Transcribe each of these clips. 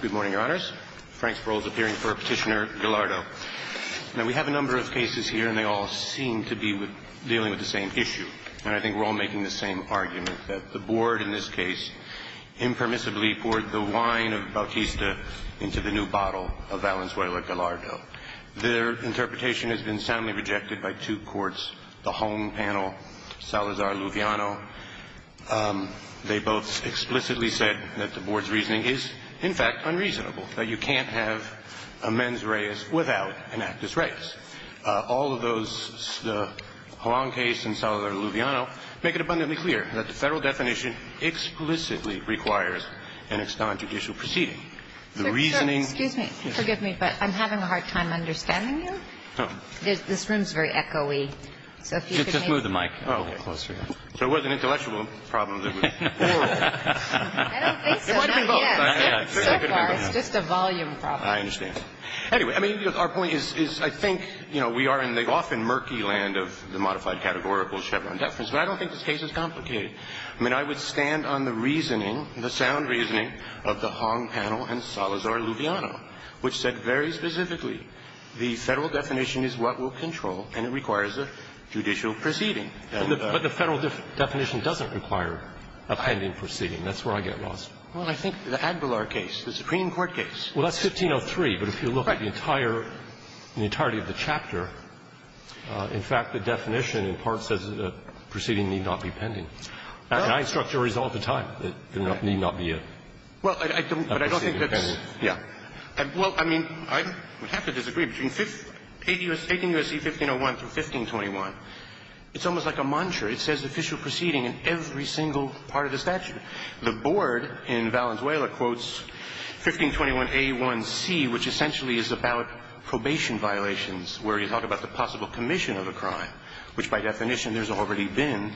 Good morning, Your Honors. Frank Sparrow is appearing for Petitioner Gallardo. Now, we have a number of cases here, and they all seem to be dealing with the same issue. And I think we're all making the same argument, that the Board, in this case, impermissibly poured the wine of Bautista into the new bottle of Valenzuela Gallardo. Their interpretation has been soundly rejected by two courts, the home panel, Salazar-Luviano. They both explicitly said that the Board's reasoning is, in fact, unreasonable, that you can't have a mens reis without an actus reis. All of those, the Juan case and Salazar-Luviano, make it abundantly clear that the federal definition explicitly requires an extant judicial proceeding. The reasoning – Excuse me. Forgive me, but I'm having a hard time understanding you. Oh. This room is very echoey, so if you could maybe – Just move the mic a little closer. So it was an intellectual problem that was oral. I don't think so. It should be both. So far, it's just a volume problem. I understand. Anyway, I mean, our point is, I think, you know, we are in the often murky land of the modified categorical Chevron deference, but I don't think this case is complicated. I mean, I would stand on the reasoning, the sound reasoning, of the home panel and Salazar-Luviano, which said very specifically, the federal definition is what will control, and it requires a judicial proceeding. But the federal definition doesn't require a pending proceeding. That's where I get lost. Well, I think the Adler case, the Supreme Court case. Well, that's 1503. But if you look at the entire – the entirety of the chapter, in fact, the definition in part says that a proceeding need not be pending. And I instruct juries all the time that there need not be a proceeding pending. Well, I don't think that's – yeah. Well, I mean, I would have to disagree. Between 18 U.S.C. 1501 through 1521, it's almost like a mantra. It says official proceeding in every single part of the statute. The board in Valenzuela quotes 1521a1c, which essentially is about probation violations, where you talk about the possible commission of a crime, which by definition there's already been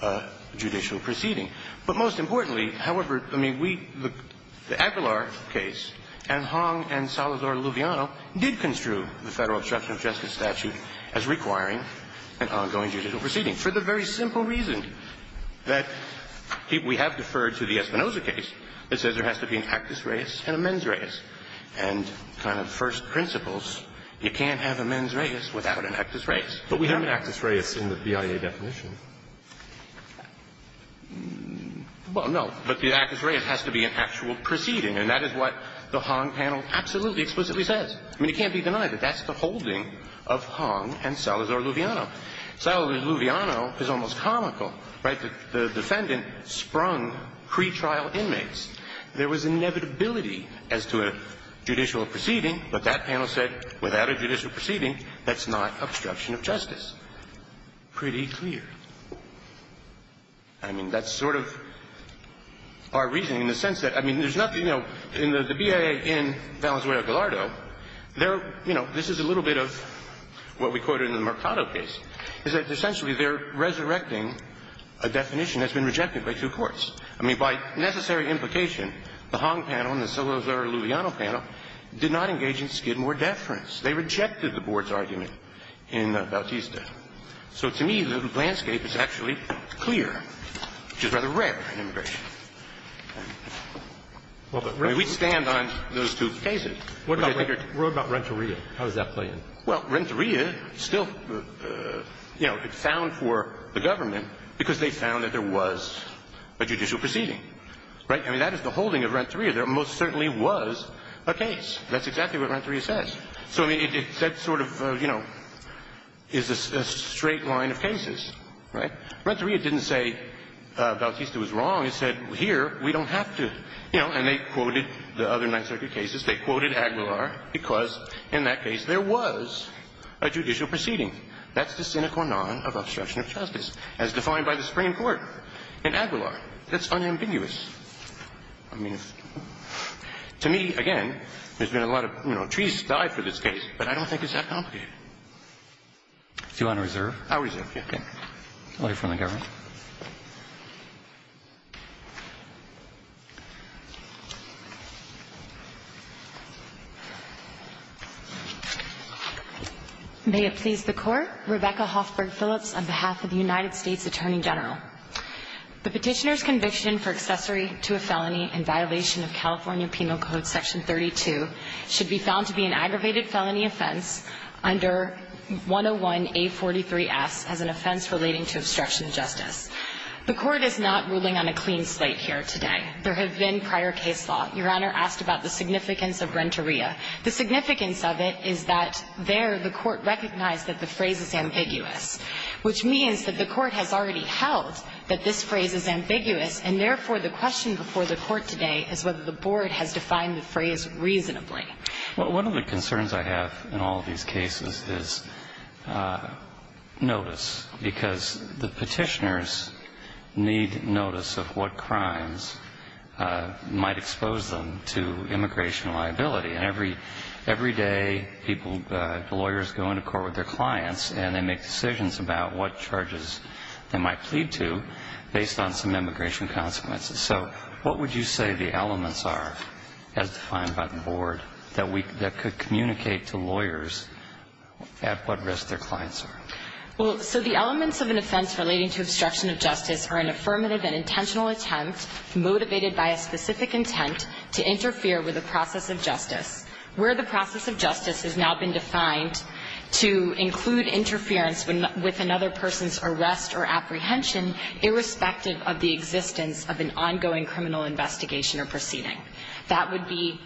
a judicial proceeding. But most importantly, however, I mean, we – the Adler case and Hong and Salazar-Luviano did construe the Federal Obstruction of Justice statute as requiring an ongoing judicial proceeding for the very simple reason that we have deferred to the Espinoza case that says there has to be an actus reus and a mens reus and kind of first principles. You can't have a mens reus without an actus reus. But we have an actus reus in the BIA definition. Well, no. But the actus reus has to be an actual proceeding, and that is what the Hong panel absolutely explicitly says. I mean, it can't be denied that that's the holding of Hong and Salazar-Luviano. Salazar-Luviano is almost comical, right, that the defendant sprung pretrial inmates. There was inevitability as to a judicial proceeding, but that panel said without a judicial proceeding, that's not obstruction of justice. Pretty clear. I mean, that's sort of our reasoning in the sense that, I mean, there's nothing in the BIA in Valenzuela-Gallardo. They're, you know, this is a little bit of what we quoted in the Mercado case, is that essentially they're resurrecting a definition that's been rejected by two courts. I mean, by necessary implication, the Hong panel and the Salazar-Luviano panel did not engage in skidmore deference. They rejected the board's argument in Bautista. So to me, the landscape is actually clear, which is rather rare in immigration. I mean, we stand on those two cases. What about Renteria? How does that play in? Well, Renteria still, you know, it's found for the government because they found that there was a judicial proceeding, right? I mean, that is the holding of Renteria. There most certainly was a case. That's exactly what Renteria says. So, I mean, it said sort of, you know, is a straight line of cases, right? Renteria didn't say Bautista was wrong. It said here we don't have to. You know, and they quoted the other Ninth Circuit cases. They quoted Aguilar because in that case there was a judicial proceeding. That's the sine qua non of obstruction of justice as defined by the Supreme Court in Aguilar. That's unambiguous. I mean, to me, again, there's been a lot of, you know, trees died for this case, but I don't think it's that complicated. Do you want to reserve? I'll reserve, yes. Okay. Our next slide, please, is the petition to rescind a felony from the government. May it please the Court. Rebecca Hoffberg Phillips on behalf of the United States Attorney General. The Petitioner's conviction for accessory to a felony in violation of California Penal Code Section 32 should be found to be an aggravated felony offense under 101A43S as an offense relating to obstruction of justice. The Court is not ruling on a clean slate here today. There have been prior case law. Your Honor asked about the significance of renteria. The significance of it is that there the Court recognized that the phrase is ambiguous, which means that the Court has already held that this phrase is ambiguous, and therefore the question before the Court today is whether the Board has defined the phrase reasonably. Well, one of the concerns I have in all of these cases is notice, because the petitioners need notice of what crimes might expose them to immigration liability, and every day people, lawyers go into court with their clients, and they make decisions about what charges they might plead to based on some immigration consequences. So what would you say the elements are, as defined by the Board, that could communicate to lawyers at what risk their clients are? Well, so the elements of an offense relating to obstruction of justice are an affirmative and intentional attempt, motivated by a specific intent, to interfere with the process of justice, where the process of justice has now been defined to include interference with another person's arrest or apprehension, irrespective of the existence of an ongoing criminal investigation or proceeding. That would be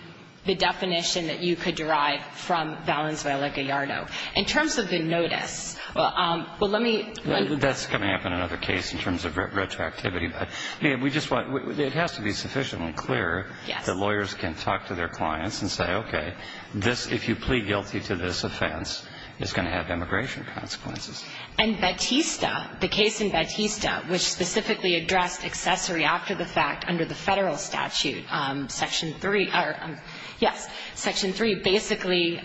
the definition that you could derive from Valenzuela-Gallardo. In terms of the notice, well, let me ---- Well, that's coming up in another case in terms of retroactivity. But we just want to be, it has to be sufficiently clear that lawyers can talk to their clients and say, okay, this, if you plead guilty to this offense, it's going to have immigration consequences. And Batista, the case in Batista, which specifically addressed accessory after the fact under the federal statute, Section 3, or, yes, Section 3, basically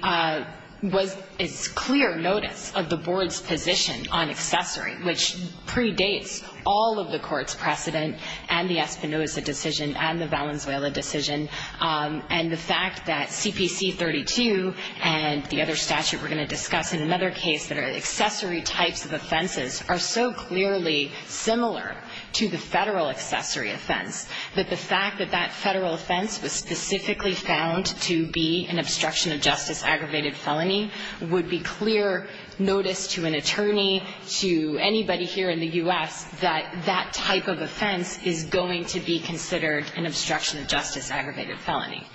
was a clear notice of the Board's position on accessory, which predates all of the Court's precedent and the Espinoza decision and the Valenzuela decision. And the fact that CPC 32 and the other statute we're going to discuss in another case that are accessory types of offenses are so clearly similar to the federal accessory offense that the fact that that federal offense was specifically found to be an obstruction of justice aggravated felony would be clear notice to an attorney, to anybody here in the U.S., that that type of offense is going to be considered an obstruction of justice aggravated felony.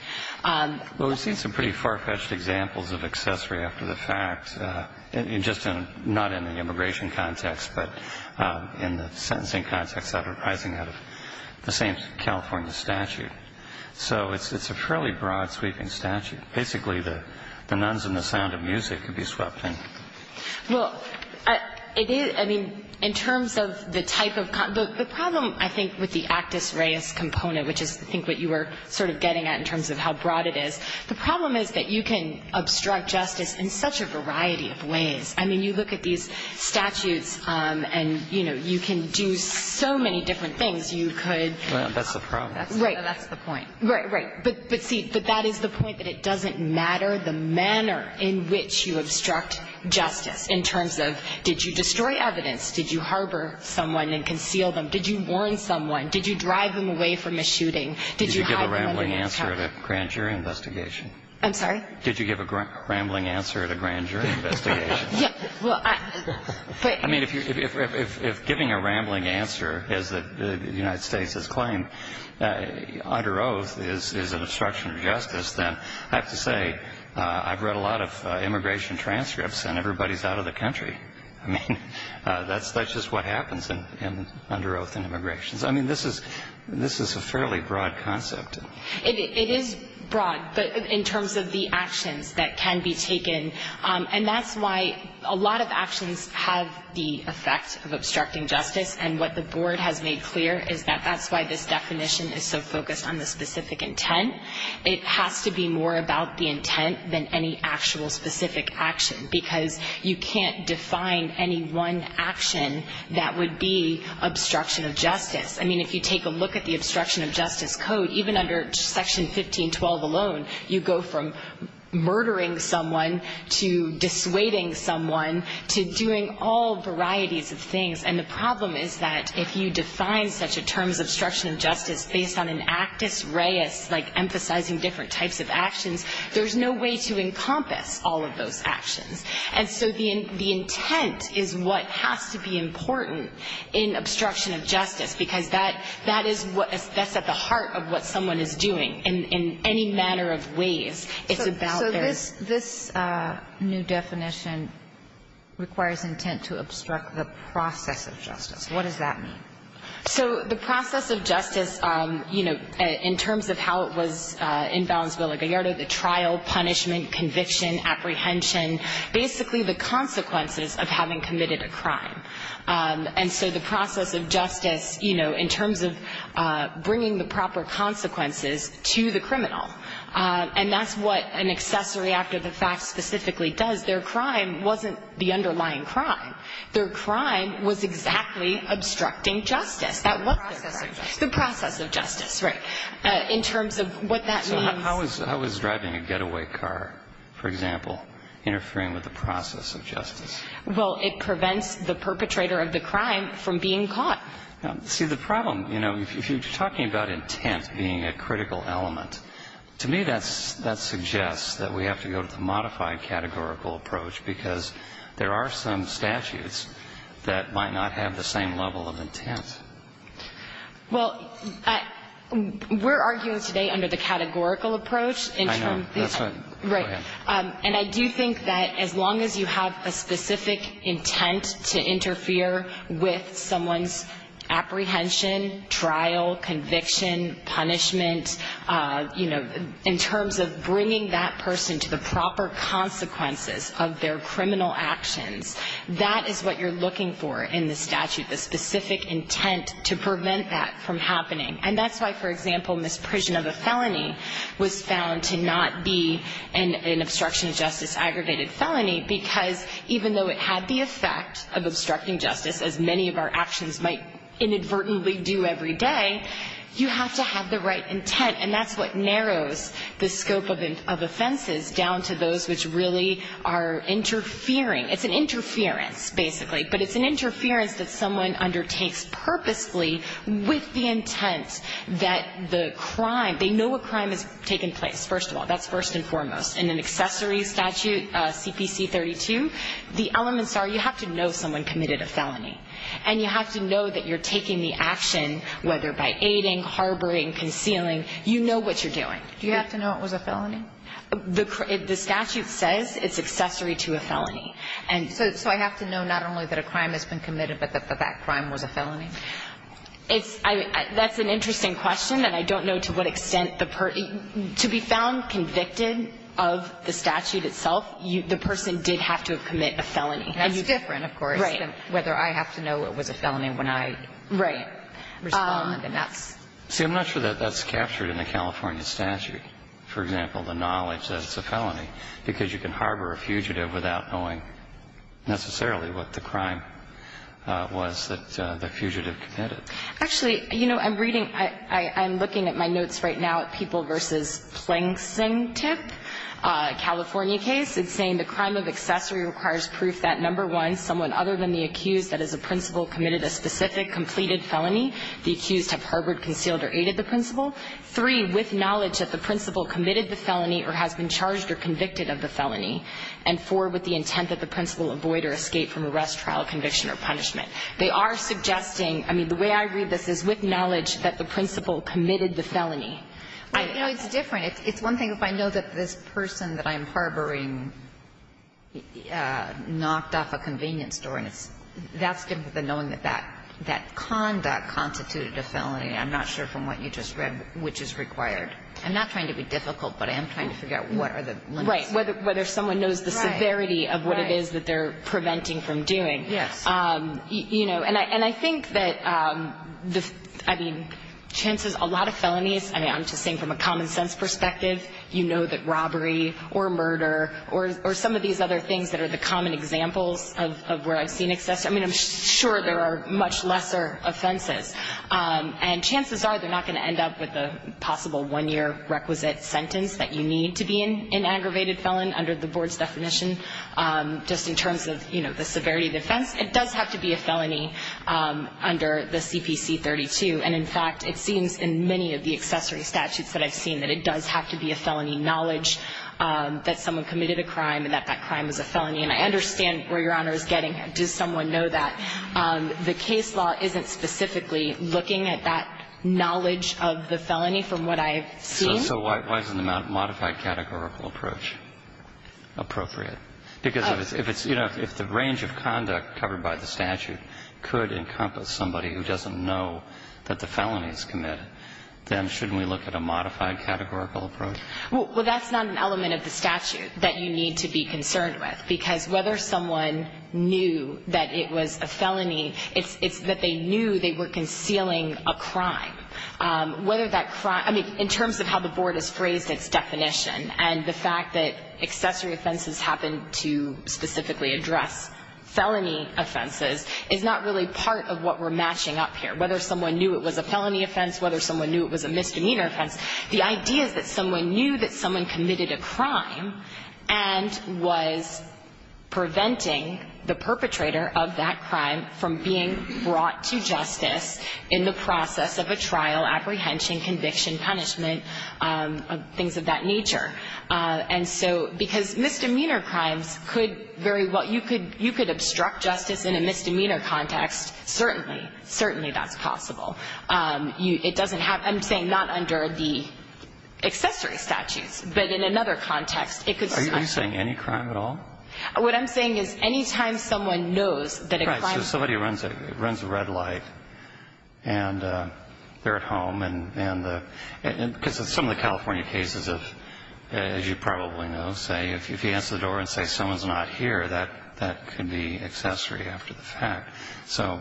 Well, we've seen some pretty far-fetched examples of accessory after the fact, just not in the immigration context, but in the sentencing context that are arising out of the same California statute. So it's a fairly broad-sweeping statute. Basically, the nuns and the sound of music can be swept in. Well, it is. I mean, in terms of the type of the problem, I think, with the actus reus component, which is, I think, what you were sort of getting at in terms of how broad it is, the problem is that you can obstruct justice in such a variety of ways. I mean, you look at these statutes and, you know, you can do so many different things you could. That's the problem. That's the point. Right, right. But, see, that is the point, that it doesn't matter the manner in which you obstruct justice in terms of did you destroy evidence, did you harbor someone and conceal them, did you warn someone, did you drive them away from a shooting, did you hide them under a mask. Did you give a rambling answer at a grand jury investigation? I'm sorry? Did you give a rambling answer at a grand jury investigation? Yeah, well, I, but. I mean, if giving a rambling answer is the United States' claim, under oath is an obstruction of justice, then I have to say I've read a lot of immigration transcripts and everybody's out of the country. I mean, that's just what happens under oath in immigration. I mean, this is a fairly broad concept. It is broad, but in terms of the actions that can be taken. And that's why a lot of actions have the effect of obstructing justice. And what the Board has made clear is that that's why this definition is so focused on the specific intent. It has to be more about the intent than any actual specific action, because you can't define any one action that would be obstruction of justice. I mean, if you take a look at the obstruction of justice code, even under Section 1512 alone, you go from murdering someone to dissuading someone to doing all varieties of things. And the problem is that if you define such a term as obstruction of justice based on an actus reus, like emphasizing different types of actions, there's no way to encompass all of those actions. And so the intent is what has to be important in obstruction of justice, because that is what's at the heart of what someone is doing in any manner of ways. It's about their ---- So this new definition requires intent to obstruct the process of justice. What does that mean? So the process of justice, you know, in terms of how it was in Valenzuela-Gallardo, the trial, punishment, conviction, apprehension, basically the consequences of having committed a crime. And so the process of justice, you know, in terms of bringing the proper consequences to the criminal. And that's what an accessory act of the facts specifically does. Their crime wasn't the underlying crime. Their crime was exactly obstructing justice. The process of justice. The process of justice, right, in terms of what that means. But how is driving a getaway car, for example, interfering with the process of justice? Well, it prevents the perpetrator of the crime from being caught. See, the problem, you know, if you're talking about intent being a critical element, to me that suggests that we have to go to the modified categorical approach, because there are some statutes that might not have the same level of intent. Well, we're arguing today under the categorical approach. I know. That's right. Right. And I do think that as long as you have a specific intent to interfere with someone's apprehension, trial, conviction, punishment, you know, in terms of bringing that person to the proper consequences of their criminal actions, that is what you're looking for in the statute. The specific intent to prevent that from happening. And that's why, for example, misprision of a felony was found to not be an obstruction of justice aggravated felony, because even though it had the effect of obstructing justice, as many of our actions might inadvertently do every day, you have to have the right intent. And that's what narrows the scope of offenses down to those which really are interfering. It's an interference, basically. But it's an interference that someone undertakes purposefully with the intent that the crime, they know a crime has taken place, first of all. That's first and foremost. In an accessory statute, CPC 32, the elements are you have to know someone committed a felony, and you have to know that you're taking the action, whether by aiding, harboring, concealing. You know what you're doing. Do you have to know it was a felony? The statute says it's accessory to a felony. And so I have to know not only that a crime has been committed, but that that crime was a felony? It's – that's an interesting question, and I don't know to what extent the – to be found convicted of the statute itself, the person did have to commit a felony. And that's different, of course, than whether I have to know it was a felony when I respond. Right. See, I'm not sure that that's captured in the California statute, for example, the knowledge that it's a felony, because you can harbor a fugitive without knowing necessarily what the crime was that the fugitive committed. Actually, you know, I'm reading – I'm looking at my notes right now at People v. Plengsingtip, a California case. It's saying the crime of accessory requires proof that, number one, someone other than the accused, that is a principal, committed a specific, completed felony. The accused have harbored, concealed, or aided the principal. Three, with knowledge that the principal committed the felony or has been charged or convicted of the felony. And four, with the intent that the principal avoid or escape from arrest, trial, conviction, or punishment. They are suggesting – I mean, the way I read this is with knowledge that the principal committed the felony. Right. You know, it's different. It's one thing if I know that this person that I'm harboring knocked off a convenience store, and it's – that's different than knowing that that conduct constituted a felony. I'm not sure from what you just read which is required. I'm not trying to be difficult, but I am trying to figure out what are the limits. Right. Whether someone knows the severity of what it is that they're preventing from doing. Yes. You know, and I think that the – I mean, chances – a lot of felonies – I mean, I'm just saying from a common sense perspective, you know that robbery or murder or some of these other things that are the common examples of where I've seen excessive – I mean, I'm sure there are much lesser offenses. And chances are they're not going to end up with a possible one-year requisite sentence that you need to be an aggravated felon under the board's definition just in terms of, you know, the severity of the offense. It does have to be a felony under the CPC 32. And, in fact, it seems in many of the accessory statutes that I've seen that it does have to be a felony knowledge that someone committed a crime and that that crime was a felony. And I understand where Your Honor is getting. Does someone know that? The case law isn't specifically looking at that knowledge of the felony from what I've seen. So why isn't the modified categorical approach appropriate? Because if it's – you know, if the range of conduct covered by the statute could encompass somebody who doesn't know that the felony is committed, then shouldn't we look at a modified categorical approach? Well, that's not an element of the statute that you need to be concerned with. Because whether someone knew that it was a felony, it's that they knew they were concealing a crime. Whether that crime – I mean, in terms of how the board has phrased its definition and the fact that accessory offenses happen to specifically address felony offenses is not really part of what we're matching up here. Whether someone knew it was a felony offense, whether someone knew it was a misdemeanor crime, and was preventing the perpetrator of that crime from being brought to justice in the process of a trial, apprehension, conviction, punishment, things of that nature. And so – because misdemeanor crimes could very well – you could obstruct justice in a misdemeanor context. Certainly. Certainly that's possible. It doesn't have – I'm saying not under the accessory statutes. But in another context, it could – Are you saying any crime at all? What I'm saying is any time someone knows that a crime – Right. So somebody runs a red light, and they're at home, and the – because some of the California cases, as you probably know, say if you answer the door and say someone's not here, that could be accessory after the fact. So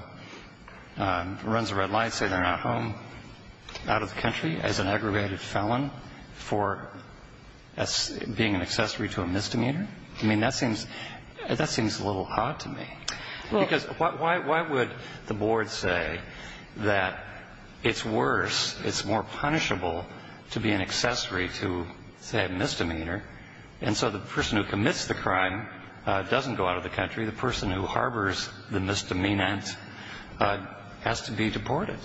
runs a red light, say they're not home, out of the country as an aggravated felon for being an accessory to a misdemeanor? I mean, that seems – that seems a little odd to me. Well – Because why would the board say that it's worse, it's more punishable to be an accessory to, say, a misdemeanor, and so the person who commits the crime doesn't go out of the country. The person who harbors the misdemeanant has to be deported.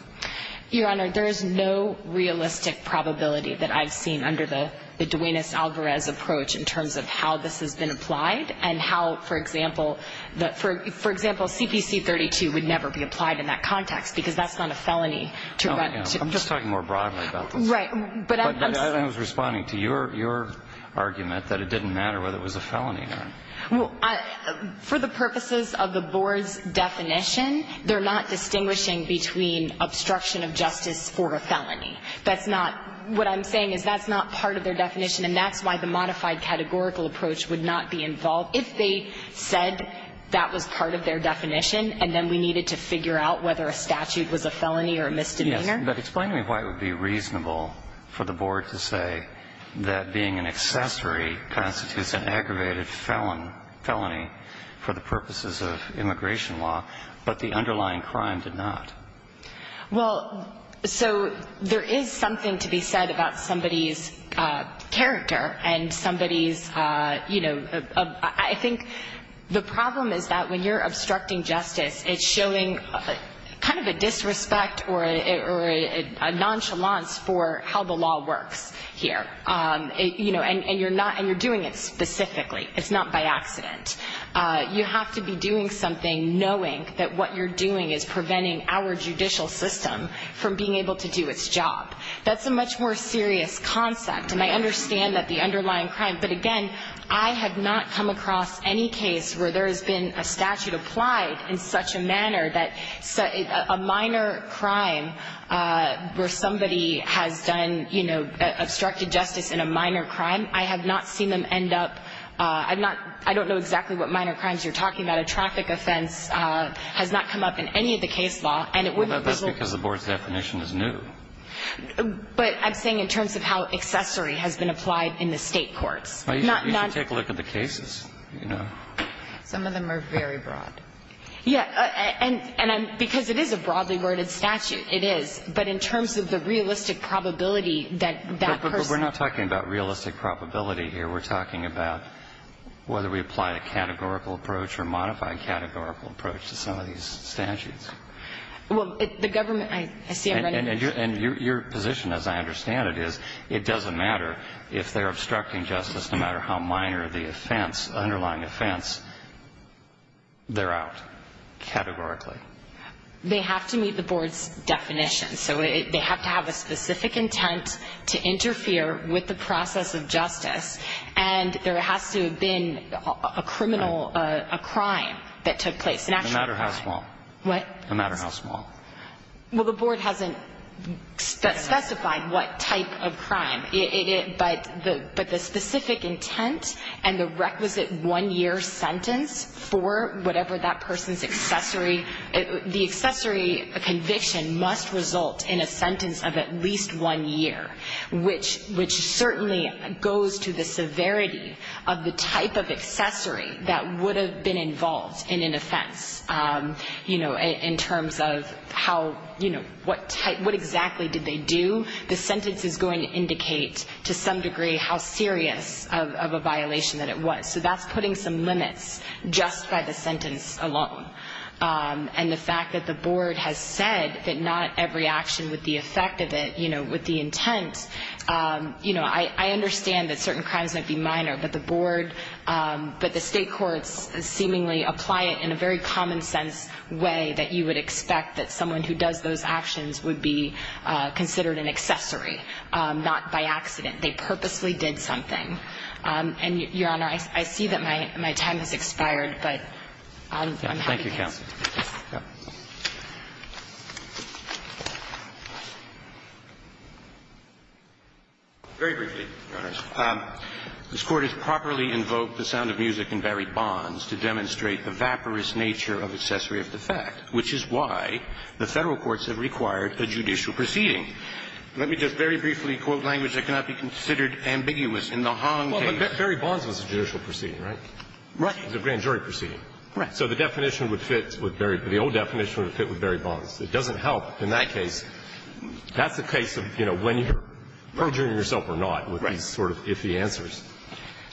Your Honor, there is no realistic probability that I've seen under the Duenas-Alvarez approach in terms of how this has been applied and how, for example, the – for example, CPC 32 would never be applied in that context because that's not a felony to run – No, I know. I'm just talking more broadly about this. Right. But I'm – But I was responding to your – your argument that it didn't matter whether it was a felony or not. Well, I – for the purposes of the board's definition, they're not distinguishing between obstruction of justice or a felony. That's not – what I'm saying is that's not part of their definition, and that's why the modified categorical approach would not be involved if they said that was part of their definition, and then we needed to figure out whether a statute was a felony or a misdemeanor. Yes, but explain to me why it would be reasonable for the board to say that being an accessory constitutes an aggravated felon – felony for the purposes of immigration law, but the underlying crime did not. Well, so there is something to be said about somebody's character and somebody's – you know, I think the problem is that when you're obstructing justice, it's showing kind of a disrespect or a nonchalance for how the law works here. You know, and you're not – and you're doing it specifically. It's not by accident. You have to be doing something knowing that what you're doing is preventing our judicial system from being able to do its job. That's a much more serious concept, and I understand that the underlying crime – but again, I have not come across any case where there has been a statute applied in such a manner that – a minor crime where somebody has done, you know, obstructed justice in a minor crime. I have not seen them end up – I'm not – I don't know exactly what minor crimes you're talking about. A traffic offense has not come up in any of the case law, and it wouldn't be – Well, that's because the board's definition is new. But I'm saying in terms of how accessory has been applied in the State courts. Well, you should take a look at the cases, you know. Some of them are very broad. Yeah. And I'm – because it is a broadly worded statute. It is. But in terms of the realistic probability that that person – But we're not talking about realistic probability here. We're talking about whether we apply a categorical approach or modify a categorical approach to some of these statutes. Well, the government – I see I'm running – And your position, as I understand it, is it doesn't matter if they're obstructing justice, no matter how minor the offense, underlying offense, they're out categorically. They have to meet the board's definition. So they have to have a specific intent to interfere with the process of justice, and there has to have been a criminal – a crime that took place, an actual crime. No matter how small. What? No matter how small. Well, the board hasn't specified what type of crime. It – but the specific intent and the requisite one-year sentence for whatever that person's accessory – the accessory conviction must result in a sentence of at least one year, which certainly goes to the severity of the type of accessory that would have been involved in an offense, you know, in terms of how – you know, what type – what exactly did they do. The sentence is going to indicate to some degree how serious of a violation that it was. So that's putting some limits just by the sentence alone. And the fact that the board has said that not every action with the effect of it, you know, with the intent – you know, I understand that certain crimes might be common-sense way that you would expect that someone who does those actions would be considered an accessory, not by accident. They purposely did something. And, Your Honor, I see that my time has expired, but I'm happy to answer. Thank you, Counsel. Very briefly, Your Honors. This Court has properly invoked the sound of music in Barry Bonds to demonstrate the vaporous nature of accessory of the fact, which is why the Federal courts have required a judicial proceeding. Let me just very briefly quote language that cannot be considered ambiguous in the Hong case. Well, Barry Bonds was a judicial proceeding, right? Right. It was a grand jury proceeding. Right. So the definition would fit with Barry – the old definition would fit with Barry Bonds. It doesn't help in that case. That's the case of, you know, when you're perjuring yourself or not with these sort of iffy answers.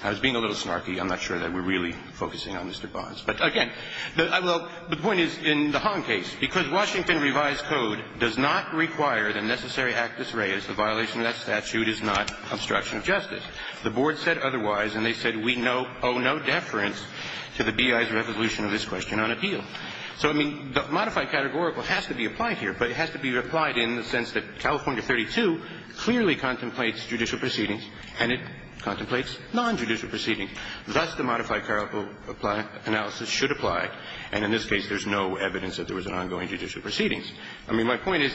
I was being a little snarky. I'm not sure that we're really focusing on Mr. Bonds. But, again, I will – the point is, in the Hong case, because Washington revised code does not require the necessary actus reus, the violation of that statute is not obstruction of justice. The Board said otherwise, and they said we owe no deference to the B.I.'s resolution of this question on appeal. So, I mean, the modified categorical has to be applied here, but it has to be applied in the sense that California 32 clearly contemplates judicial proceedings and it contemplates nonjudicial proceedings. Thus, the modified categorical analysis should apply. And in this case, there's no evidence that there was an ongoing judicial proceedings. I mean, my point is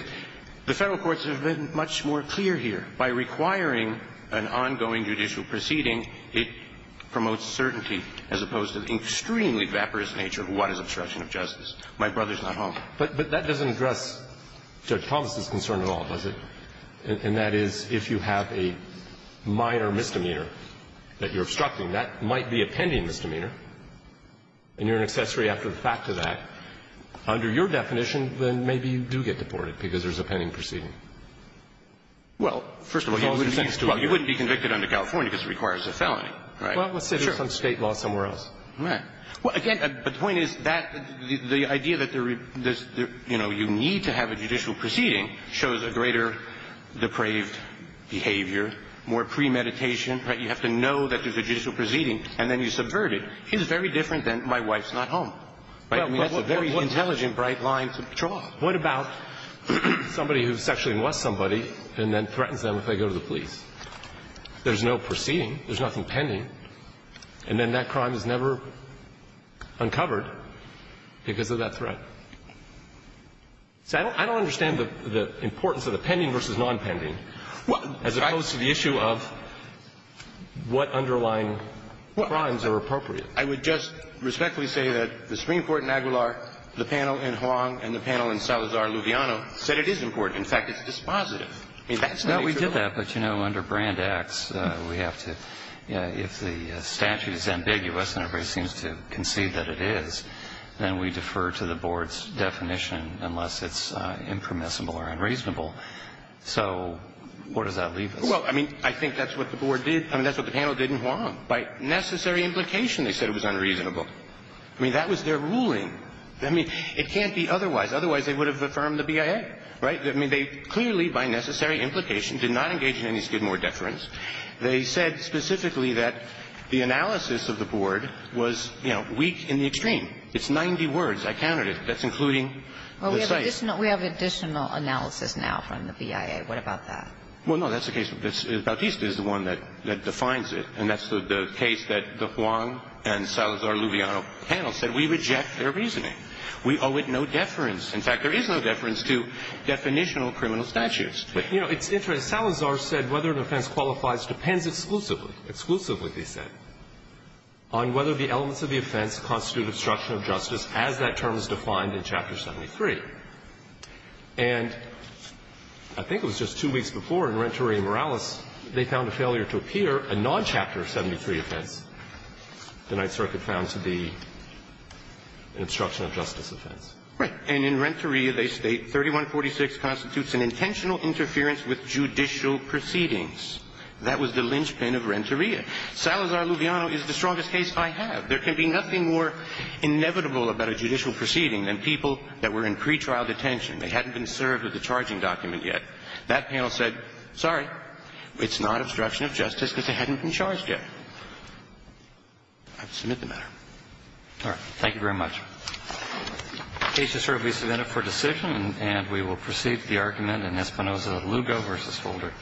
the Federal courts have been much more clear here. By requiring an ongoing judicial proceeding, it promotes certainty as opposed to the extremely vaporous nature of what is obstruction of justice. My brother's not Hong. But that doesn't address Judge Thomas' concern at all, does it? And that is, if you have a minor misdemeanor that you're obstructing, that might be a pending misdemeanor, and you're an accessory after the fact to that, under your definition, then maybe you do get deported because there's a pending proceeding. Well, first of all, you wouldn't be convicted under California because it requires a felony, right? Well, let's say some State law somewhere else. Right. Well, again, the point is that the idea that there's, you know, you need to have a judicial proceeding shows a greater depraved behavior, more premeditation. Right? You have to know that there's a judicial proceeding, and then you subvert it. It's very different than my wife's not home. Right? I mean, that's a very intelligent, bright line to draw. What about somebody who sexually molests somebody and then threatens them if they go to the police? There's no proceeding. There's nothing pending. And then that crime is never uncovered because of that threat. See, I don't understand the importance of the pending versus nonpending, as opposed to the issue of what underlying crimes are appropriate. I would just respectfully say that the Supreme Court in Aguilar, the panel in Huang, and the panel in Salazar-Luviano said it is important. In fact, it's dispositive. I mean, that's the nature of it. No, we did that. But, you know, under Brand Acts, we have to, you know, if the statute is ambiguous and everybody seems to concede that it is, then we defer to the board's definition unless it's impermissible or unreasonable. So where does that leave us? Well, I mean, I think that's what the board did. I mean, that's what the panel did in Huang. By necessary implication, they said it was unreasonable. I mean, that was their ruling. I mean, it can't be otherwise. Otherwise, they would have affirmed the BIA. Right? I mean, they clearly, by necessary implication, did not engage in any Skidmore deference. They said specifically that the analysis of the board was, you know, weak in the extreme. It's 90 words. I counted it. That's including the site. Well, we have additional analysis now from the BIA. What about that? Well, no, that's the case. Bautista is the one that defines it. And that's the case that the Huang and Salazar-Luviano panel said we reject their reasoning. We owe it no deference. In fact, there is no deference to definitional criminal statutes. But, you know, it's interesting. Salazar said whether an offense qualifies depends exclusively, exclusively, they said, on whether the elements of the offense constitute obstruction of justice as that term is defined in Chapter 73. And I think it was just two weeks before, in Renteria Morales, they found a failure to appear, a non-Chapter 73 offense the Ninth Circuit found to be an obstruction of justice offense. Right. And in Renteria, they state 3146 constitutes an intentional interference with judicial proceedings. That was the linchpin of Renteria. Salazar-Luviano is the strongest case I have. There can be nothing more inevitable about a judicial proceeding than people that were in pretrial detention. They hadn't been served with a charging document yet. That panel said, sorry, it's not obstruction of justice because they hadn't been charged yet. I submit the matter. All right. Thank you very much. The case is served. We submit it for decision. And we will proceed to the argument in Espinoza-Lugo v. Holder.